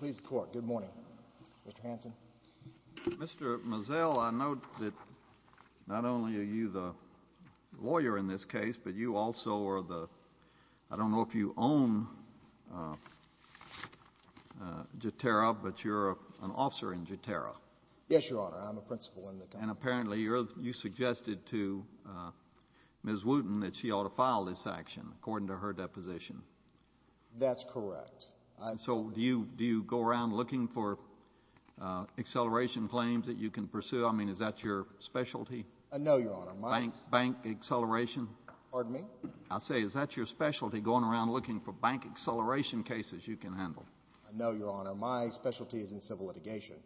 Mr. Mazel, I note that not only are you the lawyer in this case, but you also are the – I don't know if you own Jatera, but you're an officer in Jatera. Yes, Your Honor, I'm a principal in the company. And apparently you suggested to Ms. Wooten that she ought to file this action, according to her deposition. That's correct. And so do you go around looking for acceleration claims that you can pursue? I mean, is that your specialty? No, Your Honor. Bank acceleration? Pardon me? I say, is that your specialty, going around looking for bank acceleration cases you can handle? No, Your Honor. My specialty is in civil litigation,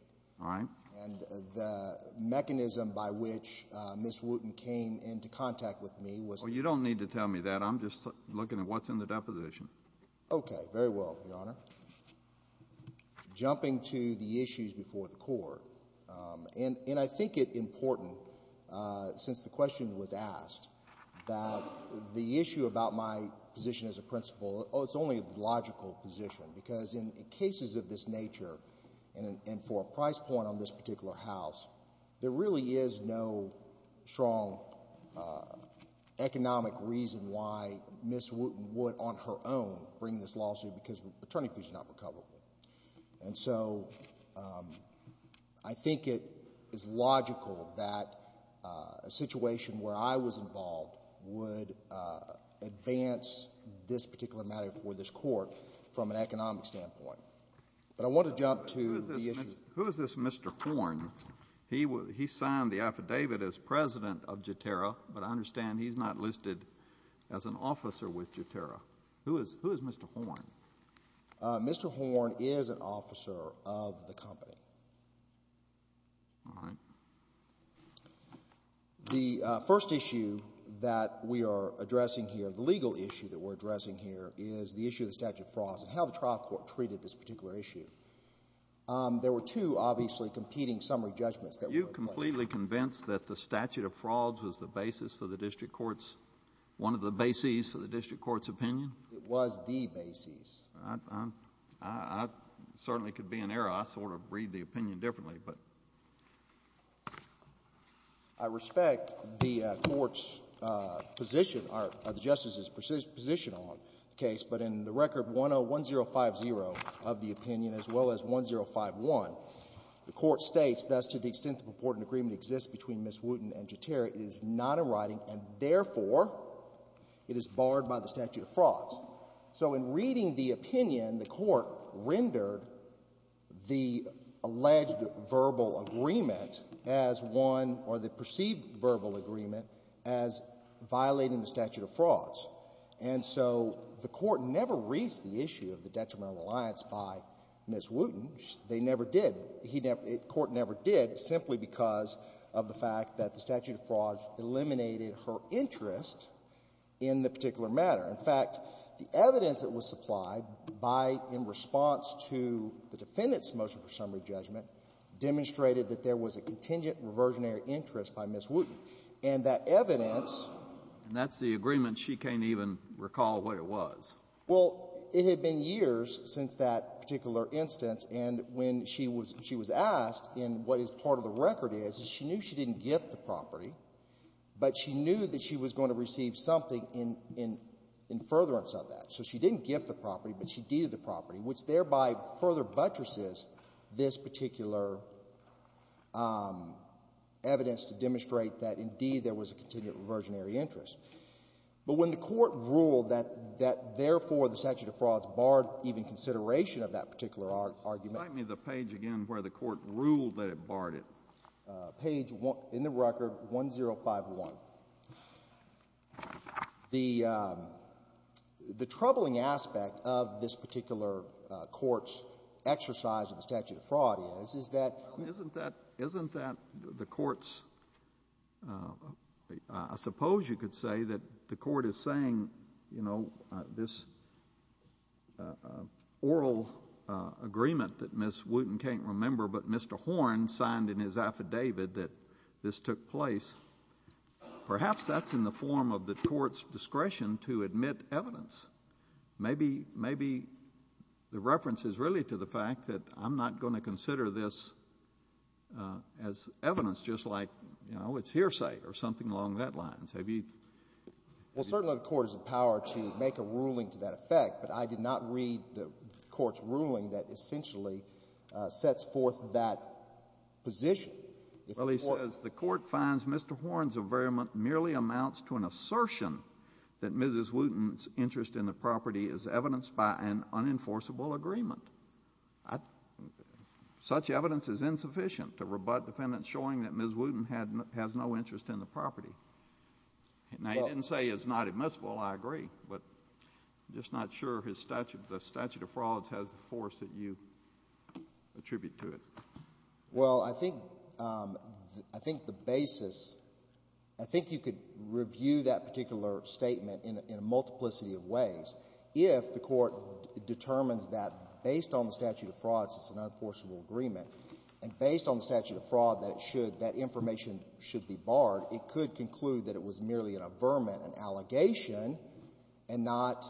and the mechanism by which Ms. Wooten came into contact with me was – Well, you don't need to tell me that. I'm just looking at what's in the deposition. Very well, Your Honor. Jumping to the issues before the Court, and I think it's important, since the question was asked, that the issue about my position as a principal, oh, it's only a logical position, because in cases of this nature and for a price point on this particular House, there really is no strong economic reason why Ms. Wooten would, on her own, bring this lawsuit, because the attorney's fees are not recoverable. And so I think it is logical that a situation where I was involved would advance this particular matter for this Court from an economic standpoint. But I want to jump to the issue – Who is this Mr. Horn? He signed the affidavit as president of Jaterra, but I understand he's not listed as an officer with Jaterra. Who is Mr. Horn? Mr. Horn is an officer of the company. All right. The first issue that we are addressing here, the legal issue that we're addressing here, is the issue of the statute of frauds and how the trial court treated this particular issue. There were two, obviously, competing summary judgments that were applied. Are you completely convinced that the statute of frauds was the basis for the district court's – one of the bases for the district court's opinion? It was the basis. I certainly could be in error. I sort of read the opinion differently, but. I respect the court's position, or the justice's position on the case, but in the record 101050 of the opinion, as well as 1051, the court states, thus, to the extent the purported agreement exists between Ms. Wooten and Jaterra, it is not in writing, and therefore, it is barred by the statute of frauds. So in reading the opinion, the court rendered the alleged verbal agreement as one – or the perceived verbal agreement as violating the statute of frauds. And so the court never reached the issue of the detrimental reliance by Ms. Wooten. They never did. He never – the court never did, simply because of the fact that the statute of frauds eliminated her interest in the particular matter. In fact, the evidence that was supplied by – in response to the defendant's motion for summary judgment demonstrated that there was a contingent reversionary interest by Ms. Wooten. And that evidence – Can you recall what it was? Well, it had been years since that particular instance, and when she was – she was asked in what is part of the record is, is she knew she didn't gift the property, but she knew that she was going to receive something in – in furtherance of that. So she didn't gift the property, but she deeded the property, which thereby further buttresses this particular evidence to demonstrate that, indeed, there was a contingent reversionary interest. But when the Court ruled that – that, therefore, the statute of frauds barred even consideration of that particular argument – Remind me of the page again where the Court ruled that it barred it. Page – in the record, 1051. The troubling aspect of this particular Court's exercise of the statute of fraud is, is that – Well, isn't that – isn't that the Court's – I suppose you could say that the Court is saying, you know, this oral agreement that Ms. Wooten can't remember, but Mr. Horn signed in his affidavit that this took place. Perhaps that's in the form of the Court's discretion to admit evidence. Maybe – maybe the reference is really to the fact that I'm not going to consider this as evidence, just like, you know, it's hearsay or something along that lines. Have you – Well, certainly the Court is empowered to make a ruling to that effect, but I did not read the Court's ruling that essentially sets forth that position. If the Court – Well, he says the Court finds Mr. Horn's averiment merely amounts to an assertion that Ms. Wooten's interest in the property is evidenced by an unenforceable agreement. Such evidence is insufficient to rebut defendants showing that Ms. Wooten had – has no interest in the property. Now, he didn't say it's not admissible, I agree, but I'm just not sure his statute – the statute of frauds has the force that you attribute to it. Well, I think – I think the basis – I think you could review that particular statement in a multiplicity of ways if the Court determines that based on the statute of frauds it's an unenforceable agreement, and based on the statute of fraud that it should – that information should be barred. It could conclude that it was merely an averiment, an allegation, and not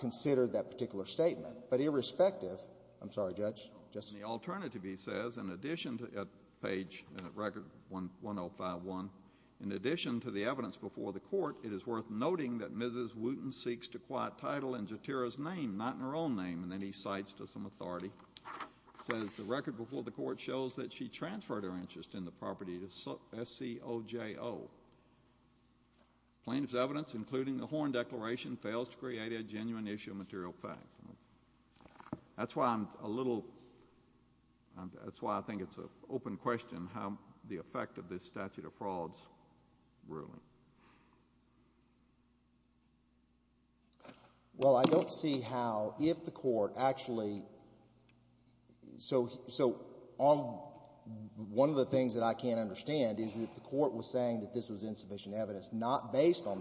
consider that particular statement. But irrespective – I'm sorry, Judge, Justice. The alternative, he says, in addition to – at page – at record 1051 – in addition to the evidence before the Court, it is worth noting that Mrs. Wooten seeks to quiet title in Jotira's name, not in her own name, and then he cites to some authority, says the record before the Court shows that she transferred her interest in the property to S-C-O-J-O. Plaintiff's evidence, including the Horn Declaration, fails to create a genuine issue of material fact. That's why I'm a little – that's why I think it's an open question how the effect of this statute of frauds ruling. Well, I don't see how – if the Court actually – so on – one of the things that I can't understand is that the Court was saying that this was insufficient evidence not based on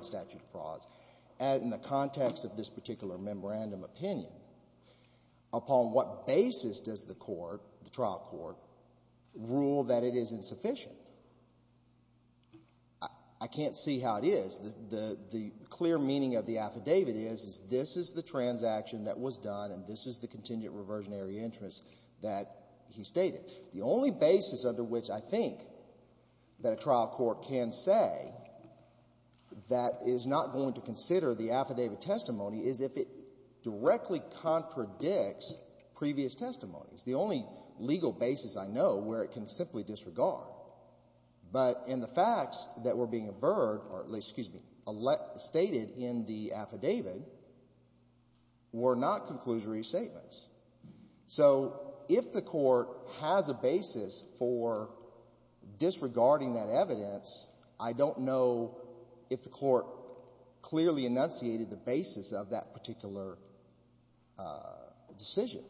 on what basis does the Court, the trial court, rule that it is insufficient? I can't see how it is. The clear meaning of the affidavit is, is this is the transaction that was done and this is the contingent reversionary interest that he stated. The only basis under which I think that a trial court can say that it is not going to consider the affidavit testimony is if it directly contradicts previous testimonies. The only legal basis I know where it can simply disregard. But in the facts that were being averred – or, excuse me, stated in the affidavit were not conclusory statements. So if the Court has a basis for disregarding that evidence, I don't know if the Court clearly enunciated the basis of that particular decision.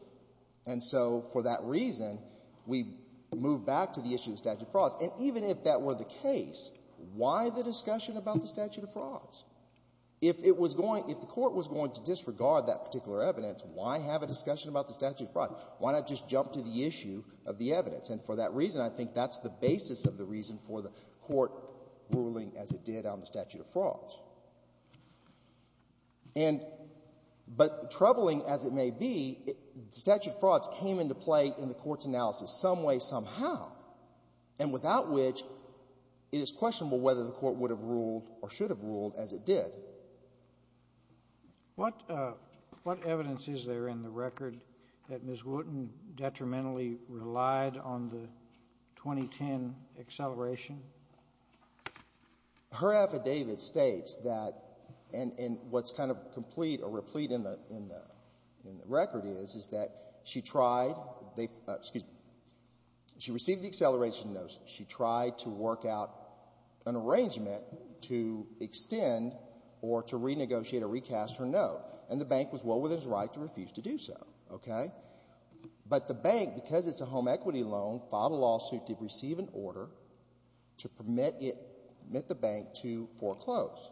And so for that reason, we move back to the issue of statute of frauds. And even if that were the case, why the discussion about the statute of frauds? If it was going – if the Court was going to disregard that particular evidence, why have a discussion about the statute of frauds? Why not just jump to the issue of the evidence? And for that reason, I think that's the basis of the reason for the Court ruling as it did on the statute of frauds. But troubling as it may be, statute of frauds came into play in the Court's analysis some way, somehow, and without which it is questionable whether the Court would have ruled or should have ruled as it did. What evidence is there in the record that Ms. Wooten detrimentally relied on the 2010 acceleration? Her affidavit states that – and what's kind of complete or replete in the record is, is that she tried – excuse me, she received the acceleration notice. She tried to work out an arrangement to extend or to renegotiate or recast her note. And the bank was well within its right to refuse to do so, okay? But the bank, because it's a home equity loan, filed a lawsuit to receive an order to permit it – permit the bank to foreclose.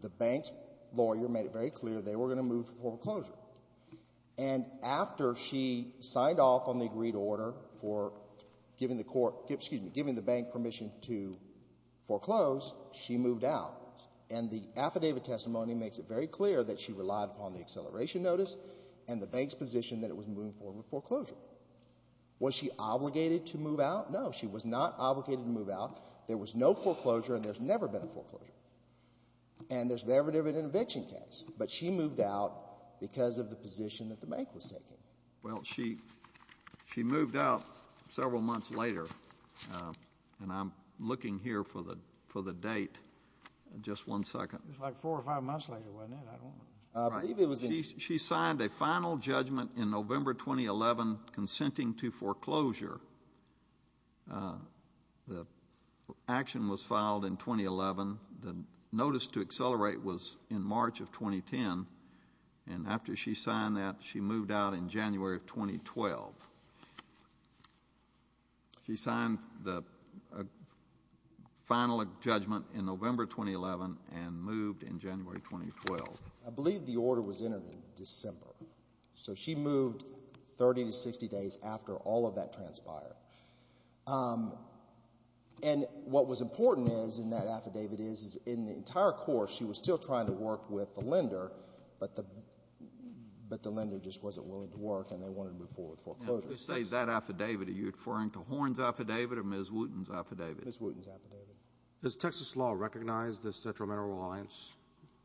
The bank's lawyer made it very clear they were going to move foreclosure. And after she signed off on the agreed order for giving the court – excuse me, giving the bank permission to foreclose, she moved out. And the affidavit testimony makes it very clear that she relied upon the acceleration notice and the bank's position that it was moving forward with foreclosure. Was she obligated to move out? No, she was not obligated to move out. There was no foreclosure and there's never been a foreclosure. And there's never been an eviction case. But she moved out because of the position that the bank was taking. Well, she moved out several months later. And I'm looking here for the date. Just one second. It was like four or five months later, wasn't it? I don't remember. I believe it was in – Right. She signed a final judgment in November 2011 consenting to foreclosure. The action was filed in 2011. The notice to accelerate was in March of 2010. And after she signed that, she moved out in January of 2012. She signed the final judgment in November 2011 and moved in January 2012. I believe the order was entered in December. So she moved 30 to 60 days after all of that transpired. And what was important is in that affidavit is in the entire course, she was still trying to work with the lender, but the lender just wasn't willing to work and they wanted to move forward with foreclosure. Now, if you say that affidavit, are you referring to Horn's affidavit or Ms. Wooten's affidavit? Ms. Wooten's affidavit. Does Texas law recognize this detrimental reliance?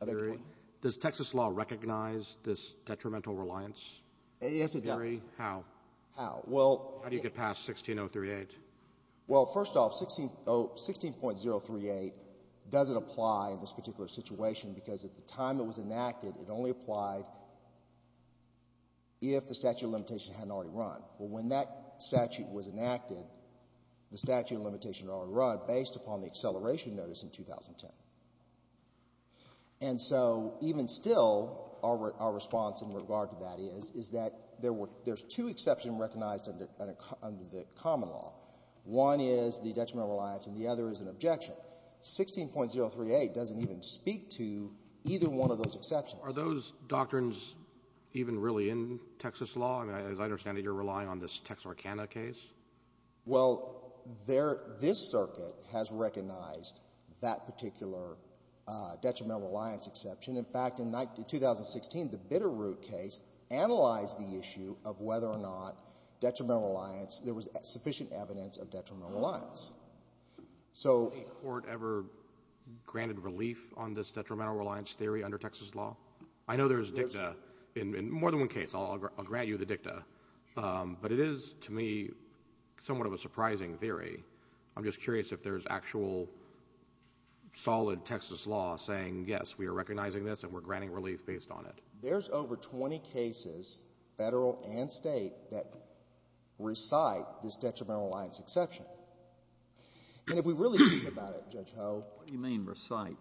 I beg your pardon? Does Texas law recognize this detrimental reliance? Yes, it does. How? How? Well. How do you get past 16038? Well, first off, 16.038 doesn't apply in this particular situation because at the time it was enacted, it only applied if the statute of limitation hadn't already run. Well, when that statute was enacted, the statute of limitation had already run based upon the acceleration notice in 2010. And so even still, our response in regard to that is, is that there's two exceptions that have been recognized under the common law. One is the detrimental reliance and the other is an objection. 16.038 doesn't even speak to either one of those exceptions. Are those doctrines even really in Texas law? I mean, as I understand it, you're relying on this Texarkana case. Well, there — this circuit has recognized that particular detrimental reliance exception. In fact, in 2016, the Bitterroot case analyzed the issue of whether or not detrimental reliance — there was sufficient evidence of detrimental reliance. So — Has any court ever granted relief on this detrimental reliance theory under Texas law? I know there's dicta in more than one case, I'll grant you the dicta, but it is, to me, somewhat of a surprising theory. I'm just curious if there's actual solid Texas law saying, yes, we are recognizing this and we're granting relief based on it. There's over 20 cases, Federal and State, that recite this detrimental reliance exception. And if we really think about it, Judge Ho — What do you mean, recite?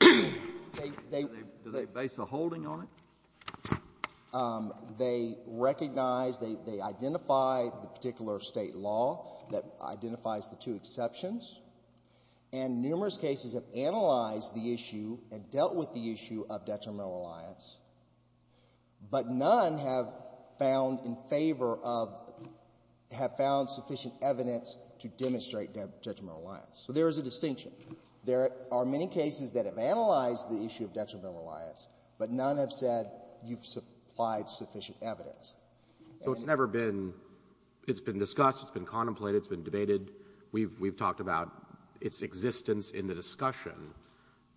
They — Do they base a holding on it? They recognize, they identify the particular State law that identifies the two exceptions. And numerous cases have analyzed the issue and dealt with the issue of detrimental reliance, but none have found in favor of — have found sufficient evidence to demonstrate detrimental reliance. So there is a distinction. There are many cases that have analyzed the issue of detrimental reliance, but none have said you've supplied sufficient evidence. And — So it's never been — it's been discussed, it's been contemplated, it's been debated. We've — we've talked about its existence in the discussion,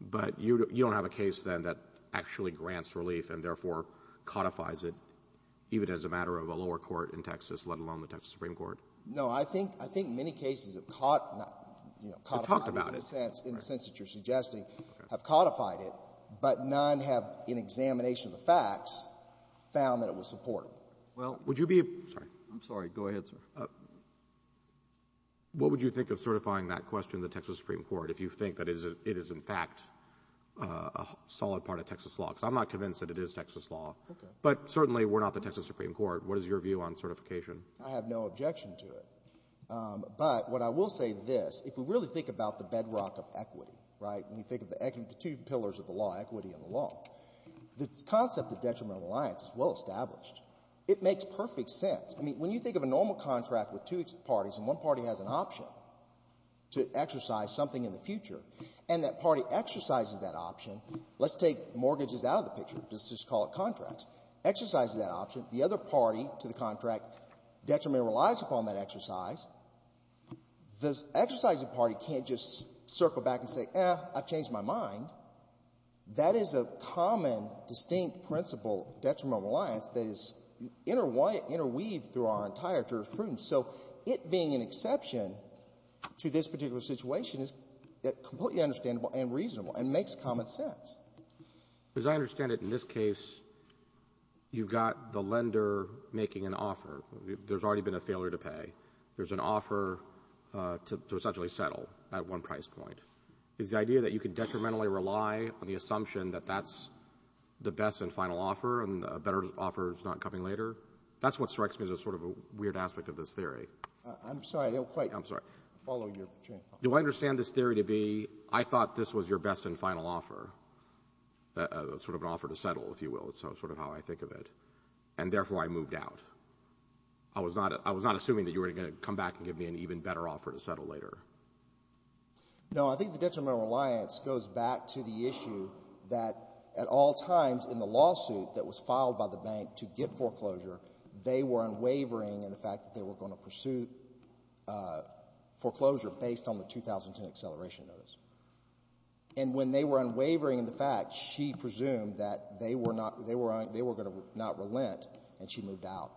but you don't have a case then that actually grants relief and, therefore, codifies it, even as a matter of a lower court in Texas, let alone the Texas Supreme Court? No. I think — I think many cases have caught — you know, codified it. In the sense that you're suggesting, have codified it, but none have, in examination of the facts, found that it was supportive. Well, would you be — I'm sorry. Go ahead, sir. What would you think of certifying that question to the Texas Supreme Court if you think that it is in fact a solid part of Texas law? Because I'm not convinced that it is Texas law. Okay. But certainly, we're not the Texas Supreme Court. What is your view on certification? I have no objection to it. But what I will say is this. If we really think about the bedrock of equity, right, when we think of the two pillars of the law, equity and the law, the concept of detrimental reliance is well established. It makes perfect sense. I mean, when you think of a normal contract with two parties, and one party has an option to exercise something in the future, and that party exercises that option — let's take mortgages out of the picture. Let's just call it contracts. Exercises that option. The other party to the contract detrimentally relies upon that exercise. The exercising party can't just circle back and say, eh, I've changed my mind. That is a common, distinct principle, detrimental reliance, that is interweaved through our entire jurisprudence. So it being an exception to this particular situation is completely understandable and reasonable and makes common sense. As I understand it, in this case, you've got the lender making an offer. There's already been a failure to pay. There's an offer to essentially settle at one price point. Is the idea that you can detrimentally rely on the assumption that that's the best and final offer and a better offer is not coming later, that's what strikes me as sort of a weird aspect of this theory. I'm sorry. I don't quite follow your point. Do I understand this theory to be, I thought this was your best and final offer, sort of an offer to settle, if you will, is sort of how I think of it, and therefore I moved out. I was not assuming that you were going to come back and give me an even better offer to settle later. No. I think the detrimental reliance goes back to the issue that at all times in the lawsuit that was filed by the bank to get foreclosure, they were unwavering in the fact that they were going to pursue foreclosure based on the 2010 acceleration notice. And when they were unwavering in the fact, she presumed that they were not going to not relent, and she moved out,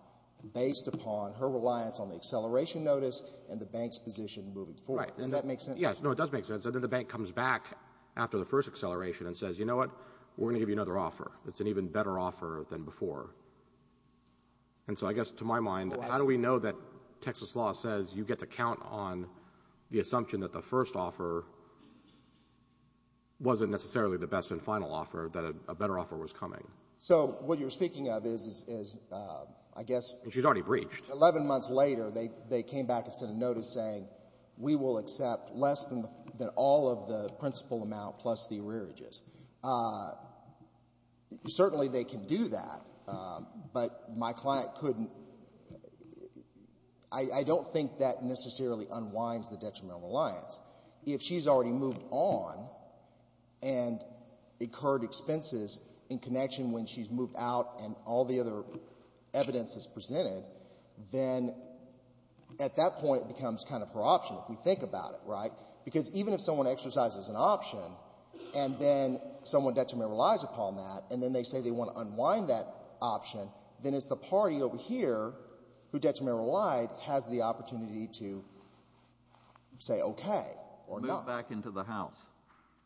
based upon her reliance on the acceleration notice and the bank's position moving forward. Right. Does that make sense? Yes. No, it does make sense. The bank comes back after the first acceleration and says, you know what? We're going to give you another offer. It's an even better offer than before. And so I guess to my mind, how do we know that Texas law says you get to count on the assumption that the first offer wasn't necessarily the best and final offer, that a better offer was coming? So what you're speaking of is, I guess — She's already breached. Eleven months later, they came back and sent a notice saying, we will accept less than all of the principal amount plus the arrearages. Certainly, they can do that. But my client couldn't — I don't think that necessarily unwinds the detrimental reliance. If she's already moved on and incurred expenses in connection when she's moved out and all the other evidence is presented, then at that point, it becomes kind of her option, if we think about it. Right? Because even if someone exercises an option and then someone detrimentally relies upon that, and then they say they want to unwind that option, then it's the party over here who detrimentally relied has the opportunity to say okay or no. Moved back into the house.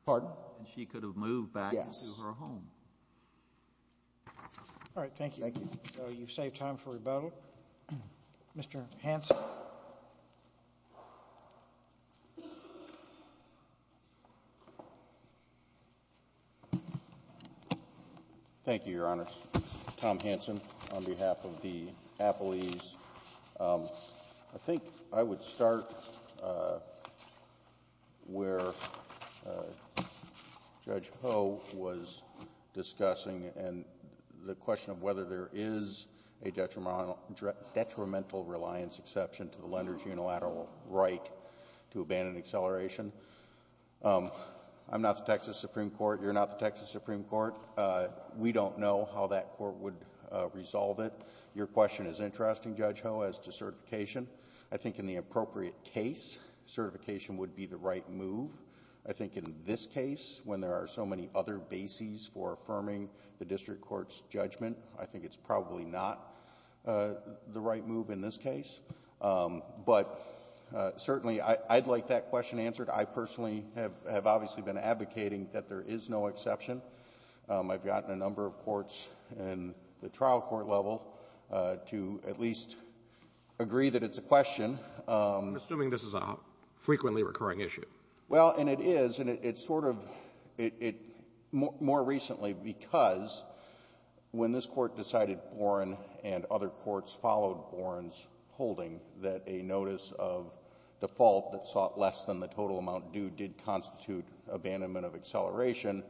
Pardon? And she could have moved back into her home. Yes. All right. Thank you. Thank you. So you've saved time for rebuttal. Mr. Hanson. Thank you, Your Honors. Tom Hanson on behalf of the Appellees. I think I would start where Judge Ho was discussing and the question of whether there is a detrimental reliance exception to the lender's unilateral right to abandon acceleration. I'm not the Texas Supreme Court. You're not the Texas Supreme Court. We don't know how that court would resolve it. Your question is interesting, Judge Ho, as to certification. I think in the appropriate case, certification would be the right move. I think in this case, when there are so many other bases for affirming the district court's judgment, I think it's probably not the right move in this case. But certainly, I'd like that question answered. I personally have obviously been advocating that there is no exception. I've gotten a number of courts in the trial court level to at least agree that it's a question. I'm assuming this is a frequently recurring issue. Well, and it is. And it's sort of more recently because when this Court decided Boren and other courts in the building that a notice of default that sought less than the total amount due did constitute abandonment of acceleration,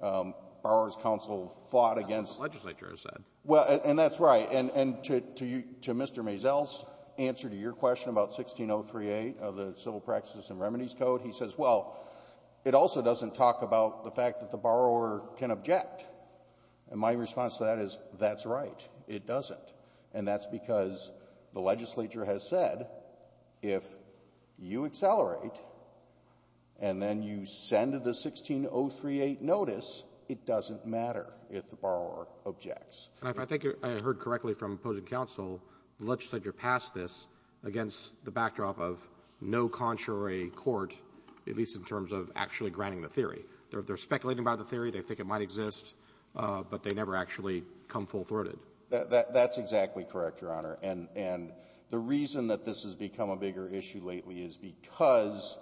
borrower's counsel fought against... That's what the legislature has said. And that's right. And to Mr. Mazel's answer to your question about 1603A of the Civil Practices and Remedies Code, he says, well, it also doesn't talk about the fact that the borrower can object. And my response to that is, that's right. It doesn't. And that's because the legislature has said, if you accelerate and then you send the 1603A notice, it doesn't matter if the borrower objects. I think I heard correctly from opposing counsel, the legislature passed this against the backdrop of no contrary court, at least in terms of actually granting the theory. They're speculating about the theory. They think it might exist. But they never actually come full-throated. That's exactly correct, Your Honor. And the reason that this has become a bigger issue lately is because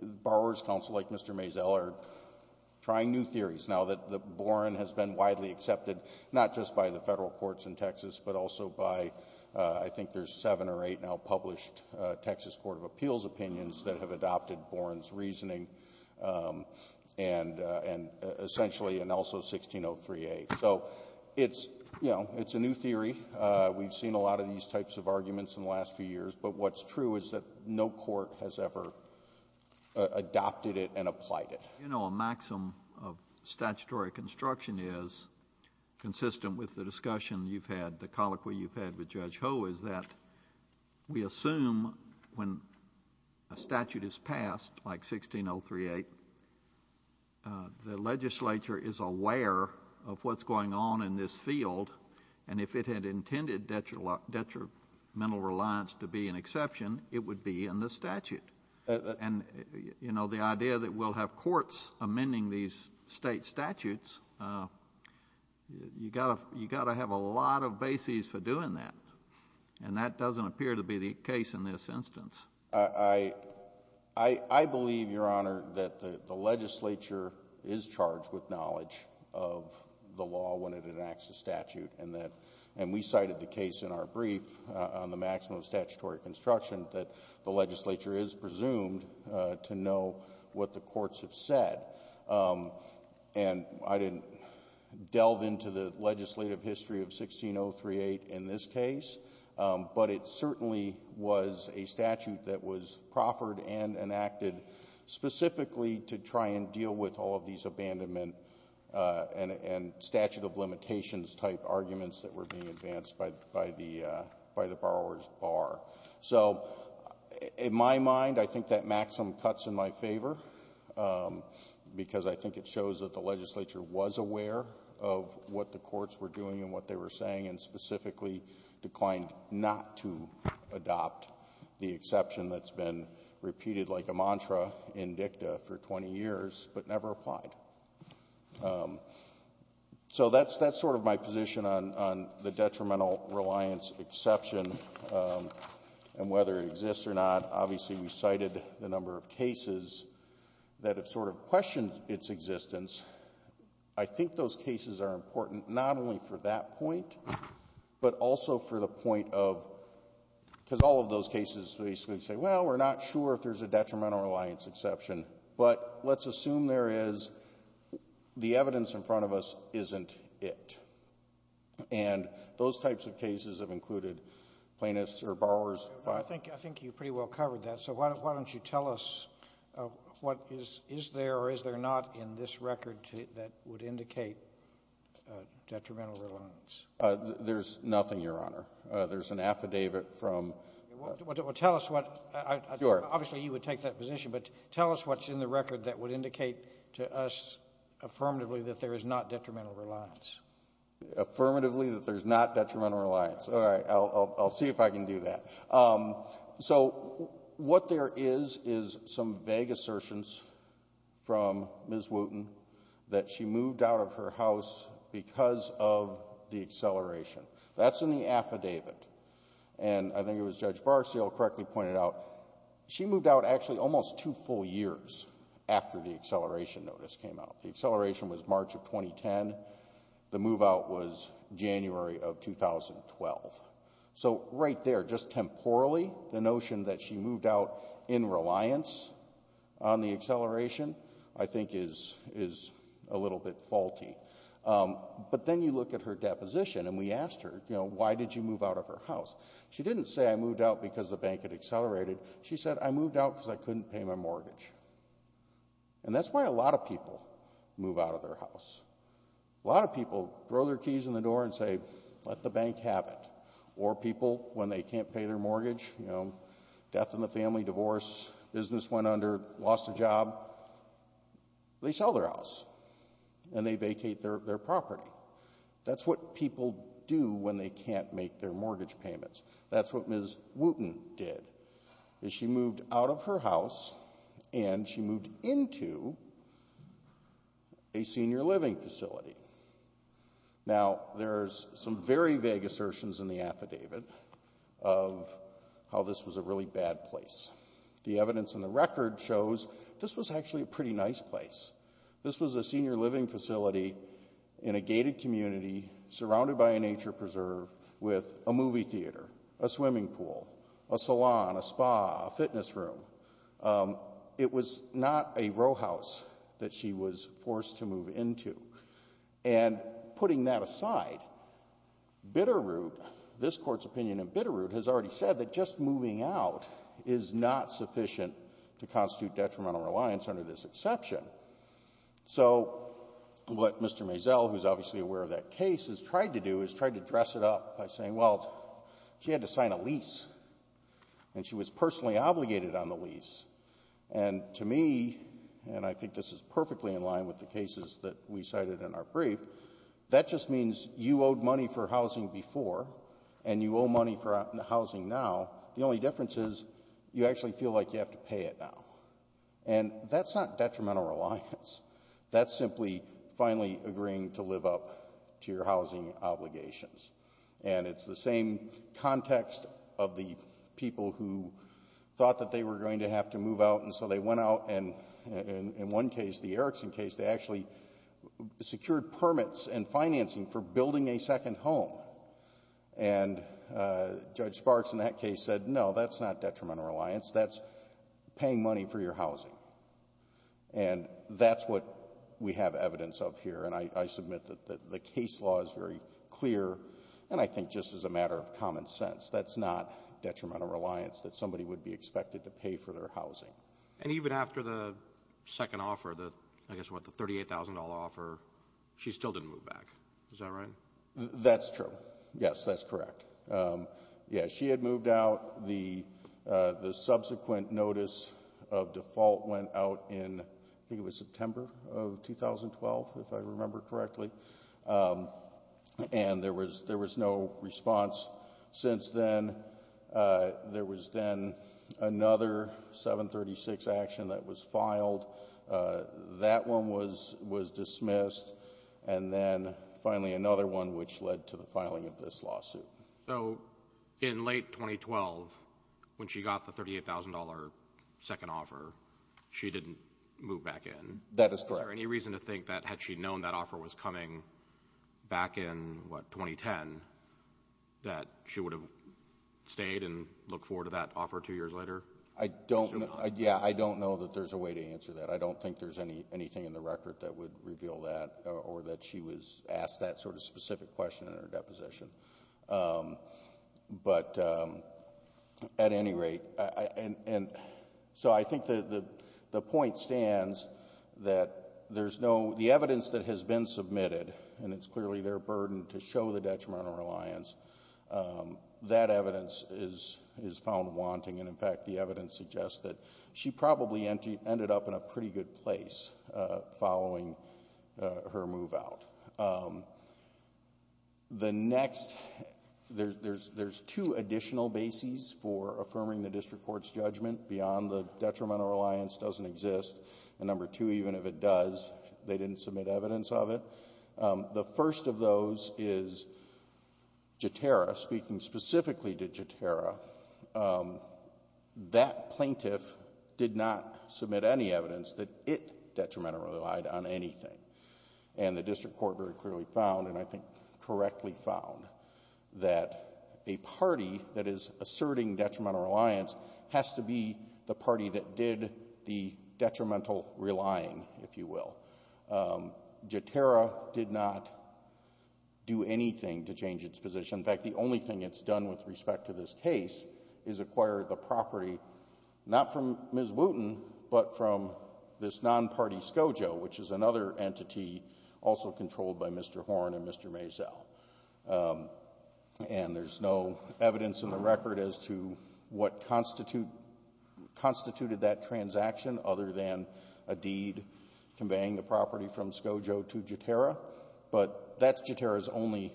borrower's counsel, like Mr. Mazel, are trying new theories. Now, the Boren has been widely accepted, not just by the federal courts in Texas, but also by, I think there's seven or eight now published Texas Court of Appeals opinions that have adopted Boren's reasoning, and essentially, and also 1603A. So it's, you know, it's a new theory. We've seen a lot of these types of arguments in the last few years. But what's true is that no court has ever adopted it and applied it. You know, a maxim of statutory construction is, consistent with the discussion you've had, the colloquy you've had with Judge Ho, is that we assume when a statute is passed, like 1603A, the legislature is aware of what's going on in this field, and if it had intended detrimental reliance to be an exception, it would be in the statute. And, you know, the idea that we'll have courts amending these state statutes, you've got to have a lot of bases for doing that. And that doesn't appear to be the case in this instance. I believe, Your Honor, that the legislature is charged with knowledge of the law when it enacts a statute, and we cited the case in our brief on the maxim of statutory construction, that the legislature is presumed to know what the courts have said. And I didn't delve into the legislative history of 1603A in this case, but it certainly was a statute that was proffered and enacted specifically to try and deal with all of these abandonment and statute of limitations type arguments that were being advanced by the borrower's bar. So, in my mind, I think that maximum cuts in my favor, because I think it shows that the legislature was aware of what the courts were doing and what they were saying, and specifically declined not to adopt the exception that's been repeated like a mantra in dicta for 20 years, but never applied. So that's sort of my position on the detrimental reliance exception and whether it exists or not. Obviously, we cited the number of cases that have sort of questioned its existence. I think those cases are important not only for that point, but also for the case where you basically say, well, we're not sure if there's a detrimental reliance exception, but let's assume there is. The evidence in front of us isn't it. And those types of cases have included plaintiffs or borrowers. I think you pretty well covered that. So why don't you tell us what is there or is there not in this record that would indicate detrimental reliance? There's nothing, Your Honor. There's an affidavit from ---- Well, tell us what, obviously you would take that position, but tell us what's in the record that would indicate to us affirmatively that there is not detrimental reliance. Affirmatively that there's not detrimental reliance. All right. I'll see if I can do that. So what there is is some vague assertions from Ms. Wooten that she moved out of her house because of the acceleration. That's in the affidavit. And I think it was Judge Barseel correctly pointed out she moved out actually almost two full years after the acceleration notice came out. The acceleration was March of 2010. The move out was January of 2012. So right there, just temporally, the notion that she moved out in reliance on the acceleration I think is a little bit faulty. But then you look at her deposition and we asked her, you know, why did you move out of her house? She didn't say I moved out because the bank had accelerated. She said I moved out because I couldn't pay my mortgage. And that's why a lot of people move out of their house. A lot of people throw their keys in the door and say, let the bank have it. Or people, when they can't pay their mortgage, you know, death in the family, divorce, business went under, lost a job, they sell their house. And they vacate their property. That's what people do when they can't make their mortgage payments. That's what Ms. Wooten did is she moved out of her house and she moved into a senior living facility. Now, there's some very vague assertions in the affidavit of how this was a really bad place. The evidence in the record shows this was actually a pretty nice place. This was a senior living facility in a gated community surrounded by a nature preserve with a movie theater, a swimming pool, a salon, a spa, a fitness room. It was not a row house that she was forced to move into. And putting that aside, Bitterroot, this court's opinion in Bitterroot has already said that just moving out is not sufficient to constitute detrimental reliance under this exception. So what Mr. Mazel, who's obviously aware of that case, has tried to do is try to dress it up by saying, well, she had to sign a lease. And she was personally obligated on the lease. And to me, and I think this is perfectly in line with the cases that we cited in our brief, that just means you owed money for housing before and you owe money for housing now. The only difference is you actually feel like you have to pay it now. And that's not detrimental reliance. That's simply finally agreeing to live up to your housing obligations. And it's the same context of the people who thought that they were going to have to move out and so they went out and in one case, the Erickson case, they actually secured permits and financing for building a second home. And Judge Sparks in that case said, no, that's not detrimental reliance. That's paying money for your housing. And that's what we have evidence of here. And I submit that the case law is very clear and I think just as a matter of common sense, that's not detrimental reliance that somebody would be expected to pay for their housing. And even after the second offer, the $38,000 offer, she still didn't move back. Is that right? That's true. Yes, that's correct. Yeah, she had moved out. The subsequent notice of default went out in, I think it was September of 2012, if I remember correctly. And there was no response since then. There was then another 736 action that was filed. That one was dismissed. And then finally another one which led to the filing of this lawsuit. So, in late 2012, when she got the $38,000 second offer, she didn't move back in. That is correct. Is there any reason to think that had she known that offer was coming back in, what, 2010, that she would have stayed and looked forward to that offer two years later? I don't know that there's a way to answer that. I don't think there's anything in the record that would reveal that, or that she was asked that sort of specific question in her deposition. At any rate, so I think the point stands that there's no evidence that has been submitted, and it's clearly their burden to show the detrimental reliance. That evidence is found wanting, and in fact the evidence suggests that she probably ended up in a pretty good place following her move out. The next there's two additional bases for affirming the district court's judgment beyond the detrimental reliance doesn't exist, and number two, even if it does, they didn't submit evidence of it. The first of those is Jeterra, speaking specifically to Jeterra. That plaintiff did not submit any evidence that it detrimentally relied on anything, and the district court very clearly found, and I think correctly found, that a party that is asserting detrimental reliance has to be the party that did the detrimental relying, if you will. Jeterra did not do anything to change its position. In fact, the only thing it's done with respect to this case is acquire the property, not from Ms. Wooten, but from this non-party SCOJO, which is another entity also controlled by Mr. Horn and Mr. Maisel. And there's no evidence in the record as to what constituted that transaction other than a deed conveying the property from SCOJO to Jeterra, but that's Jeterra's only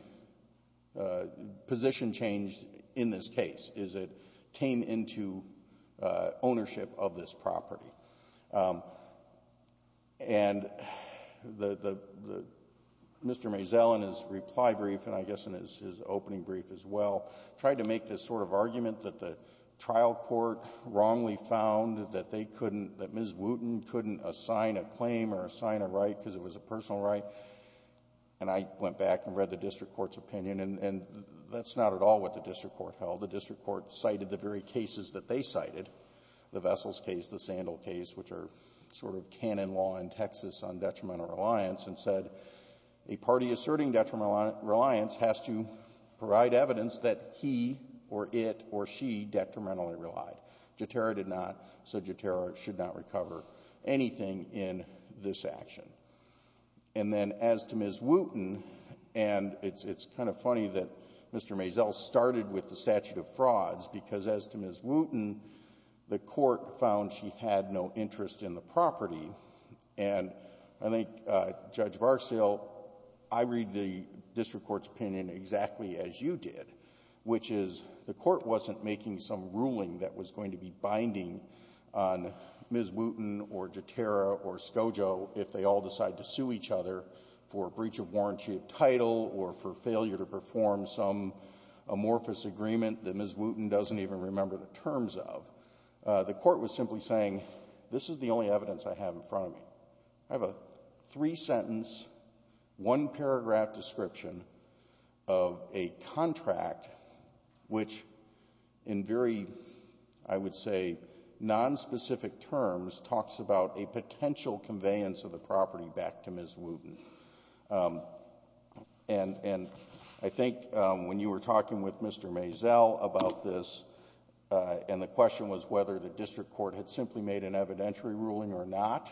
position change in this case, is it came into ownership of this property. And Mr. Maisel in his reply brief, and I guess in his opening brief as well, tried to make this sort of argument that the trial court wrongly found that they couldn't, that Ms. Wooten couldn't assign a claim or assign a right because it was a personal right. And I went back and read the district court's opinion, and that's not at all what the district court held. The district court cited the very cases that they cited, the Vessels case, the Sandell case, which are sort of canon law in Texas on detrimental reliance, and said a party asserting detrimental reliance has to provide evidence that he or it or she detrimentally relied. Jeterra did not, so Jeterra should not recover anything in this action. And then as to Ms. Wooten, and it's kind of funny that Mr. Maisel started with the statute of frauds because as to Ms. Wooten, the court found she had no interest in the property, and I think, Judge Barksdale, I read the district court's opinion exactly as you did, which is the court wasn't making some ruling that was going to be binding on Ms. Wooten or Jeterra or Scojo if they all decide to sue each other for breach of warranty of title or for failure to perform some amorphous agreement that Ms. Wooten doesn't even remember the terms of. The court was simply saying, this is the only evidence I have in front of me. I have a three-sentence, one-paragraph description of a contract which in very, I would say, non-specific terms talks about a potential conveyance of the property back to Ms. Wooten. And I think when you were talking with Mr. Maisel about this, and the question was whether the district court had simply made an evidentiary ruling or not,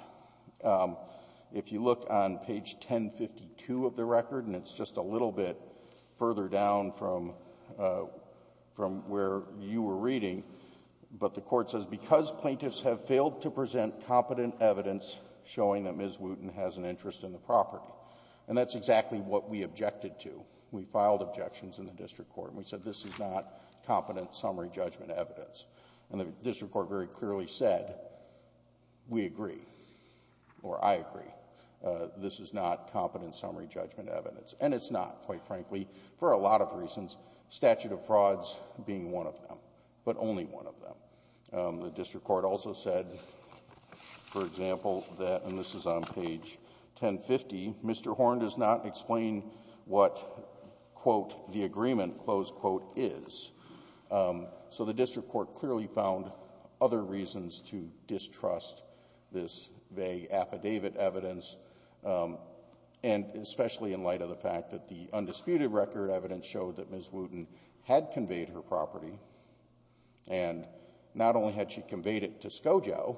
if you look on page 1052 of the record, and it's just a little bit further down from where you were reading, but the court says, because plaintiffs have failed to show that Ms. Wooten has an interest in the property. And that's exactly what we objected to. We filed objections in the district court, and we said this is not competent summary judgment evidence. And the district court very clearly said, we agree, or I agree. This is not competent summary judgment evidence. And it's not, quite frankly, for a lot of reasons, statute of frauds being one of them. But only one of them. The district court also said for example, and this is on page 1050, Mr. Horn does not explain what quote, the agreement, close quote, is. So the district court clearly found other reasons to distrust this vague affidavit evidence. And especially in light of the fact that the undisputed record evidence showed that Ms. Wooten had conveyed her property. And not only had she conveyed it to Scogio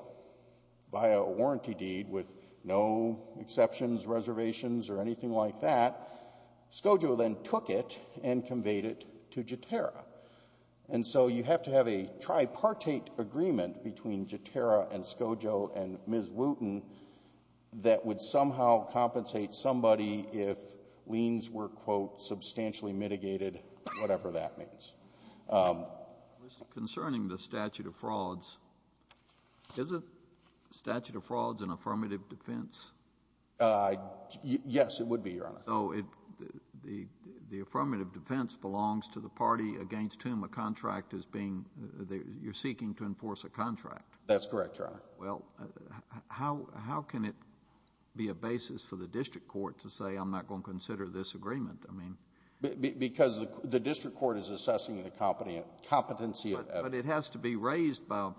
via a warranty deed with no exceptions, reservations, or anything like that, Scogio then took it and conveyed it to Jeterra. And so you have to have a tripartite agreement between Jeterra and Scogio and Ms. Wooten that would somehow compensate somebody if liens were quote, substantially mitigated, whatever that means. Concerning the statute of frauds, is a statute of frauds an affirmative defense? Yes, it would be, Your Honor. The affirmative defense belongs to the party against whom a contract is being, you're seeking to enforce a contract. That's correct, Your Honor. Well, how can it be a basis for the district court to say I'm not going to consider this agreement? Because the district court is assessing the competency. But it has to be raised by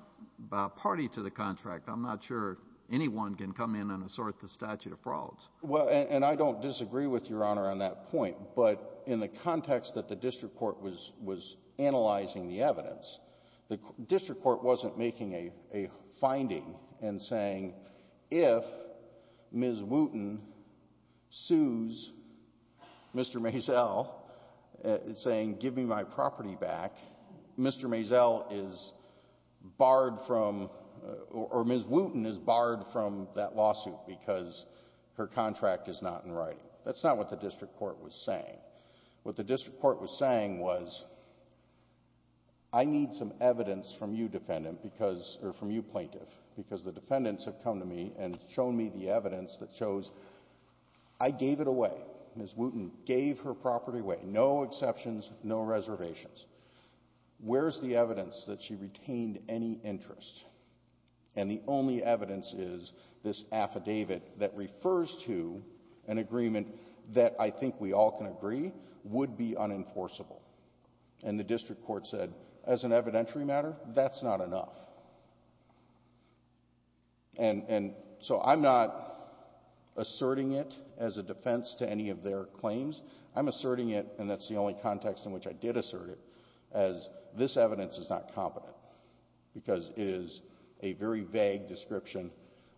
a party to the contract. I'm not sure anyone can come in and assert the statute of frauds. Well, and I don't disagree with Your Honor on that point, but in the context that the district court was analyzing the evidence, the district court wasn't making a finding and saying if Ms. Wooten sues Mr. Maisel, saying give me my property back, Mr. Maisel is barred from, or Ms. Wooten is barred from that lawsuit because her contract is not in writing. That's not what the district court was saying. What the district court was saying was I need some evidence from you defendant because, or from you plaintiff because the defendants have come to me and shown me the evidence that shows I gave it away. Ms. Wooten gave her property away. No exceptions, no reservations. Where's the evidence that she retained any interest? And the only evidence is this affidavit that refers to an agreement that I think we all can agree would be unenforceable. And the district court said as an evidentiary matter, that's not enough. And so I'm not asserting it as a defense to any of their claims. I'm asserting it, and that's the only context in which I did assert it, as this evidence is not competent because it is a very vague description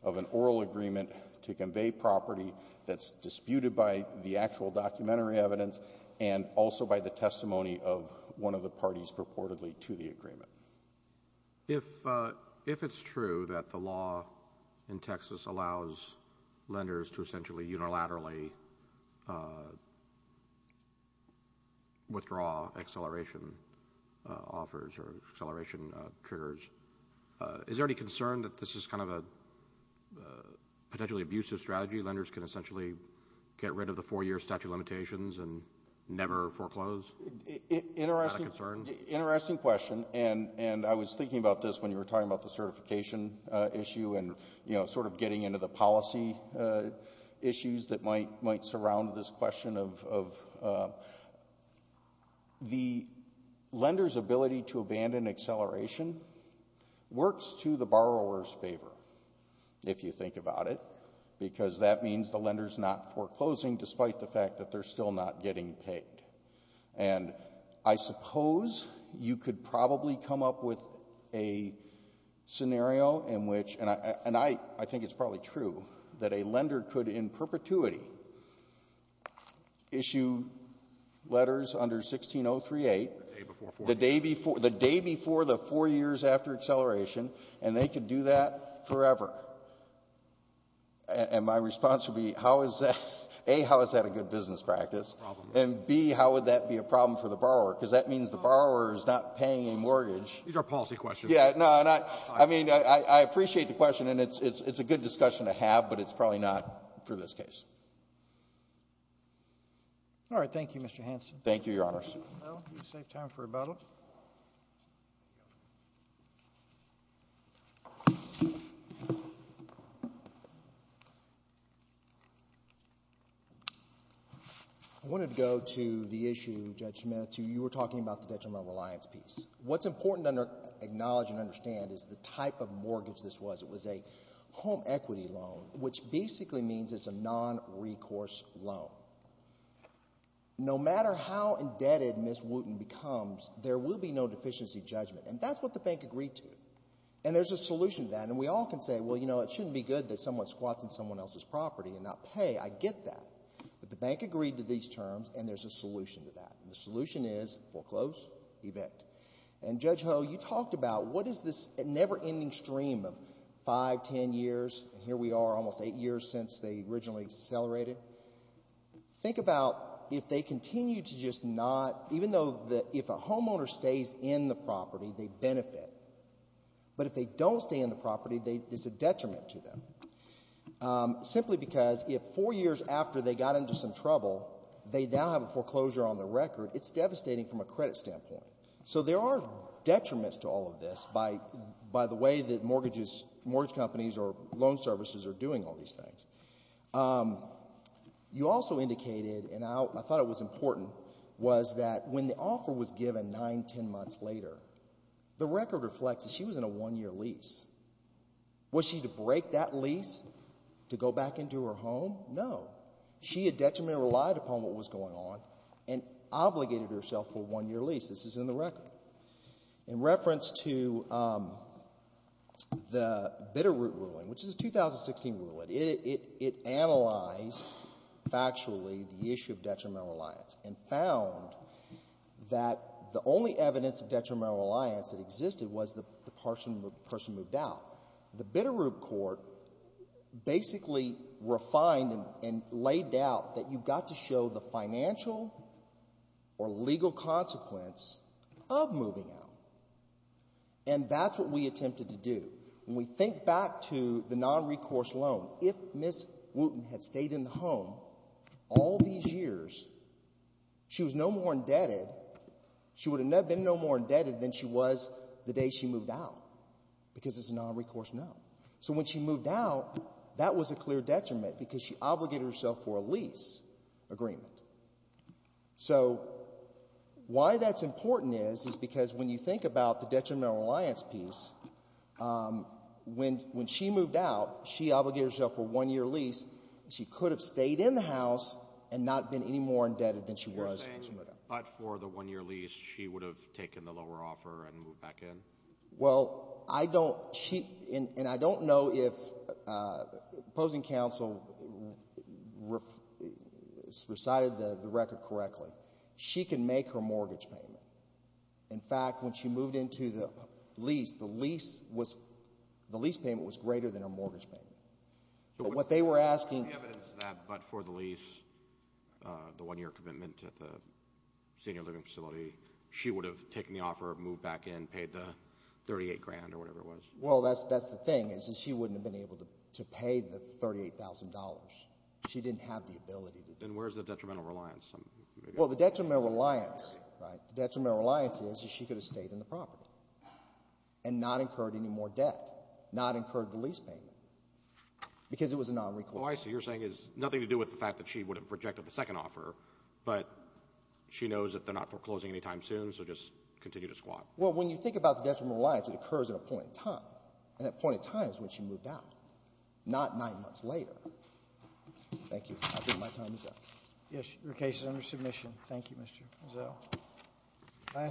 of an oral agreement to convey property that's disputed by the actual documentary evidence and also by the testimony of one of the parties purportedly to the agreement. If it's true that the law in Texas allows lenders to essentially unilaterally withdraw acceleration offers or acceleration triggers, is there any concern that this is kind of a potentially abusive strategy? Lenders can essentially get rid of the four year statute of limitations and never foreclose? Is that a concern? Interesting question, and I was talking about the certification issue and sort of getting into the policy issues that might surround this question of the lender's ability to abandon acceleration works to the borrower's favor, if you think about it, because that means the lender's not foreclosing despite the fact that they're still not getting paid. And I suppose you could probably come up with a scenario in which and I think it's probably true that a lender could in perpetuity issue letters under 16038, the day before the four years after acceleration, and they could do that forever. And my response would be, how is that? A, how is that a good business practice? And B, how would that be a problem for the borrower? Because that is a policy question. I appreciate the question, and it's a good discussion to have, but it's probably not for this case. All right. Thank you, Mr. Hanson. Thank you, Your Honors. I wanted to go to the issue, Judge Smith, you were talking about the potential nonreliance piece. What's important to acknowledge and understand is the type of mortgage this was. It was a home equity loan, which basically means it's a nonrecourse loan. No matter how indebted Ms. Wooten becomes, there will be no deficiency judgment. And that's what the bank agreed to. And there's a solution to that. And we all can say, well, you know, it shouldn't be good that someone squats in someone else's property and not pay. I get that. But the bank agreed to these terms, and there's a solution to that. The solution is foreclose, evict. And Judge Ho, you talked about what is this never-ending stream of five, ten years, and here we are almost eight years since they originally accelerated. Think about if they continue to just not, even though if a homeowner stays in the property, they benefit. But if they don't stay in the property, it's a detriment to them. Simply because if four years after they got into some trouble, they now have a foreclosure on their record, it's devastating from a credit standpoint. So there are detriments to all of this by the way that mortgage companies or loan services are doing all these things. You also indicated, and I thought it was important, was that when the offer was given nine, ten months later, the record reflects that she was in a one-year lease. Was she to break that lease to go back into her home? No. She had detrimentally relied upon what was going on and obligated herself for a one-year lease. This is in the record. In reference to the Bitterroot ruling, which is a 2016 ruling, it analyzed factually the issue of detrimental reliance and found that the only evidence of detrimental reliance that existed was the person moved out. The Bitterroot court basically refined and laid out that you've got to show the financial or legal consequence of moving out. And that's what we attempted to do. When we think back to the non-recourse loan, if Ms. Wooten had stayed in the home all these years, she was no more indebted. She would have been no more indebted than she was the day she moved out. Because it's a non-recourse loan. So when she moved out, she was in further detriment because she obligated herself for a lease agreement. So why that's important is because when you think about the detrimental reliance piece, when she moved out, she obligated herself for a one-year lease. She could have stayed in the house and not been any more indebted than she was when she moved out. But for the one-year lease, she would have taken the lower offer and moved back in? Well, I don't know if opposing counsel recited the record correctly. She can make her mortgage payment. In fact, when she moved into the lease, the lease payment was greater than her mortgage payment. But what they were asking But for the lease, the one-year commitment to the senior living facility, she would have taken the offer, moved back in, paid the Well, that's the thing, is that she wouldn't have been able to pay the $38,000. She didn't have the ability to do that. Then where's the detrimental reliance? Well, the detrimental reliance is that she could have stayed in the property and not incurred any more debt, not incurred the lease payment because it was a non-recourse loan. Oh, I see. You're saying it has nothing to do with the fact that she would have rejected the second offer, but she knows that they're not foreclosing any time soon, so just continue to squat. Well, when you think about detrimental reliance, it occurs at a point in time, and that point in time is when she moved out, not nine months later. Thank you. I think my time is up. Yes, your case is under submission. Thank you, Mr. Mazzello.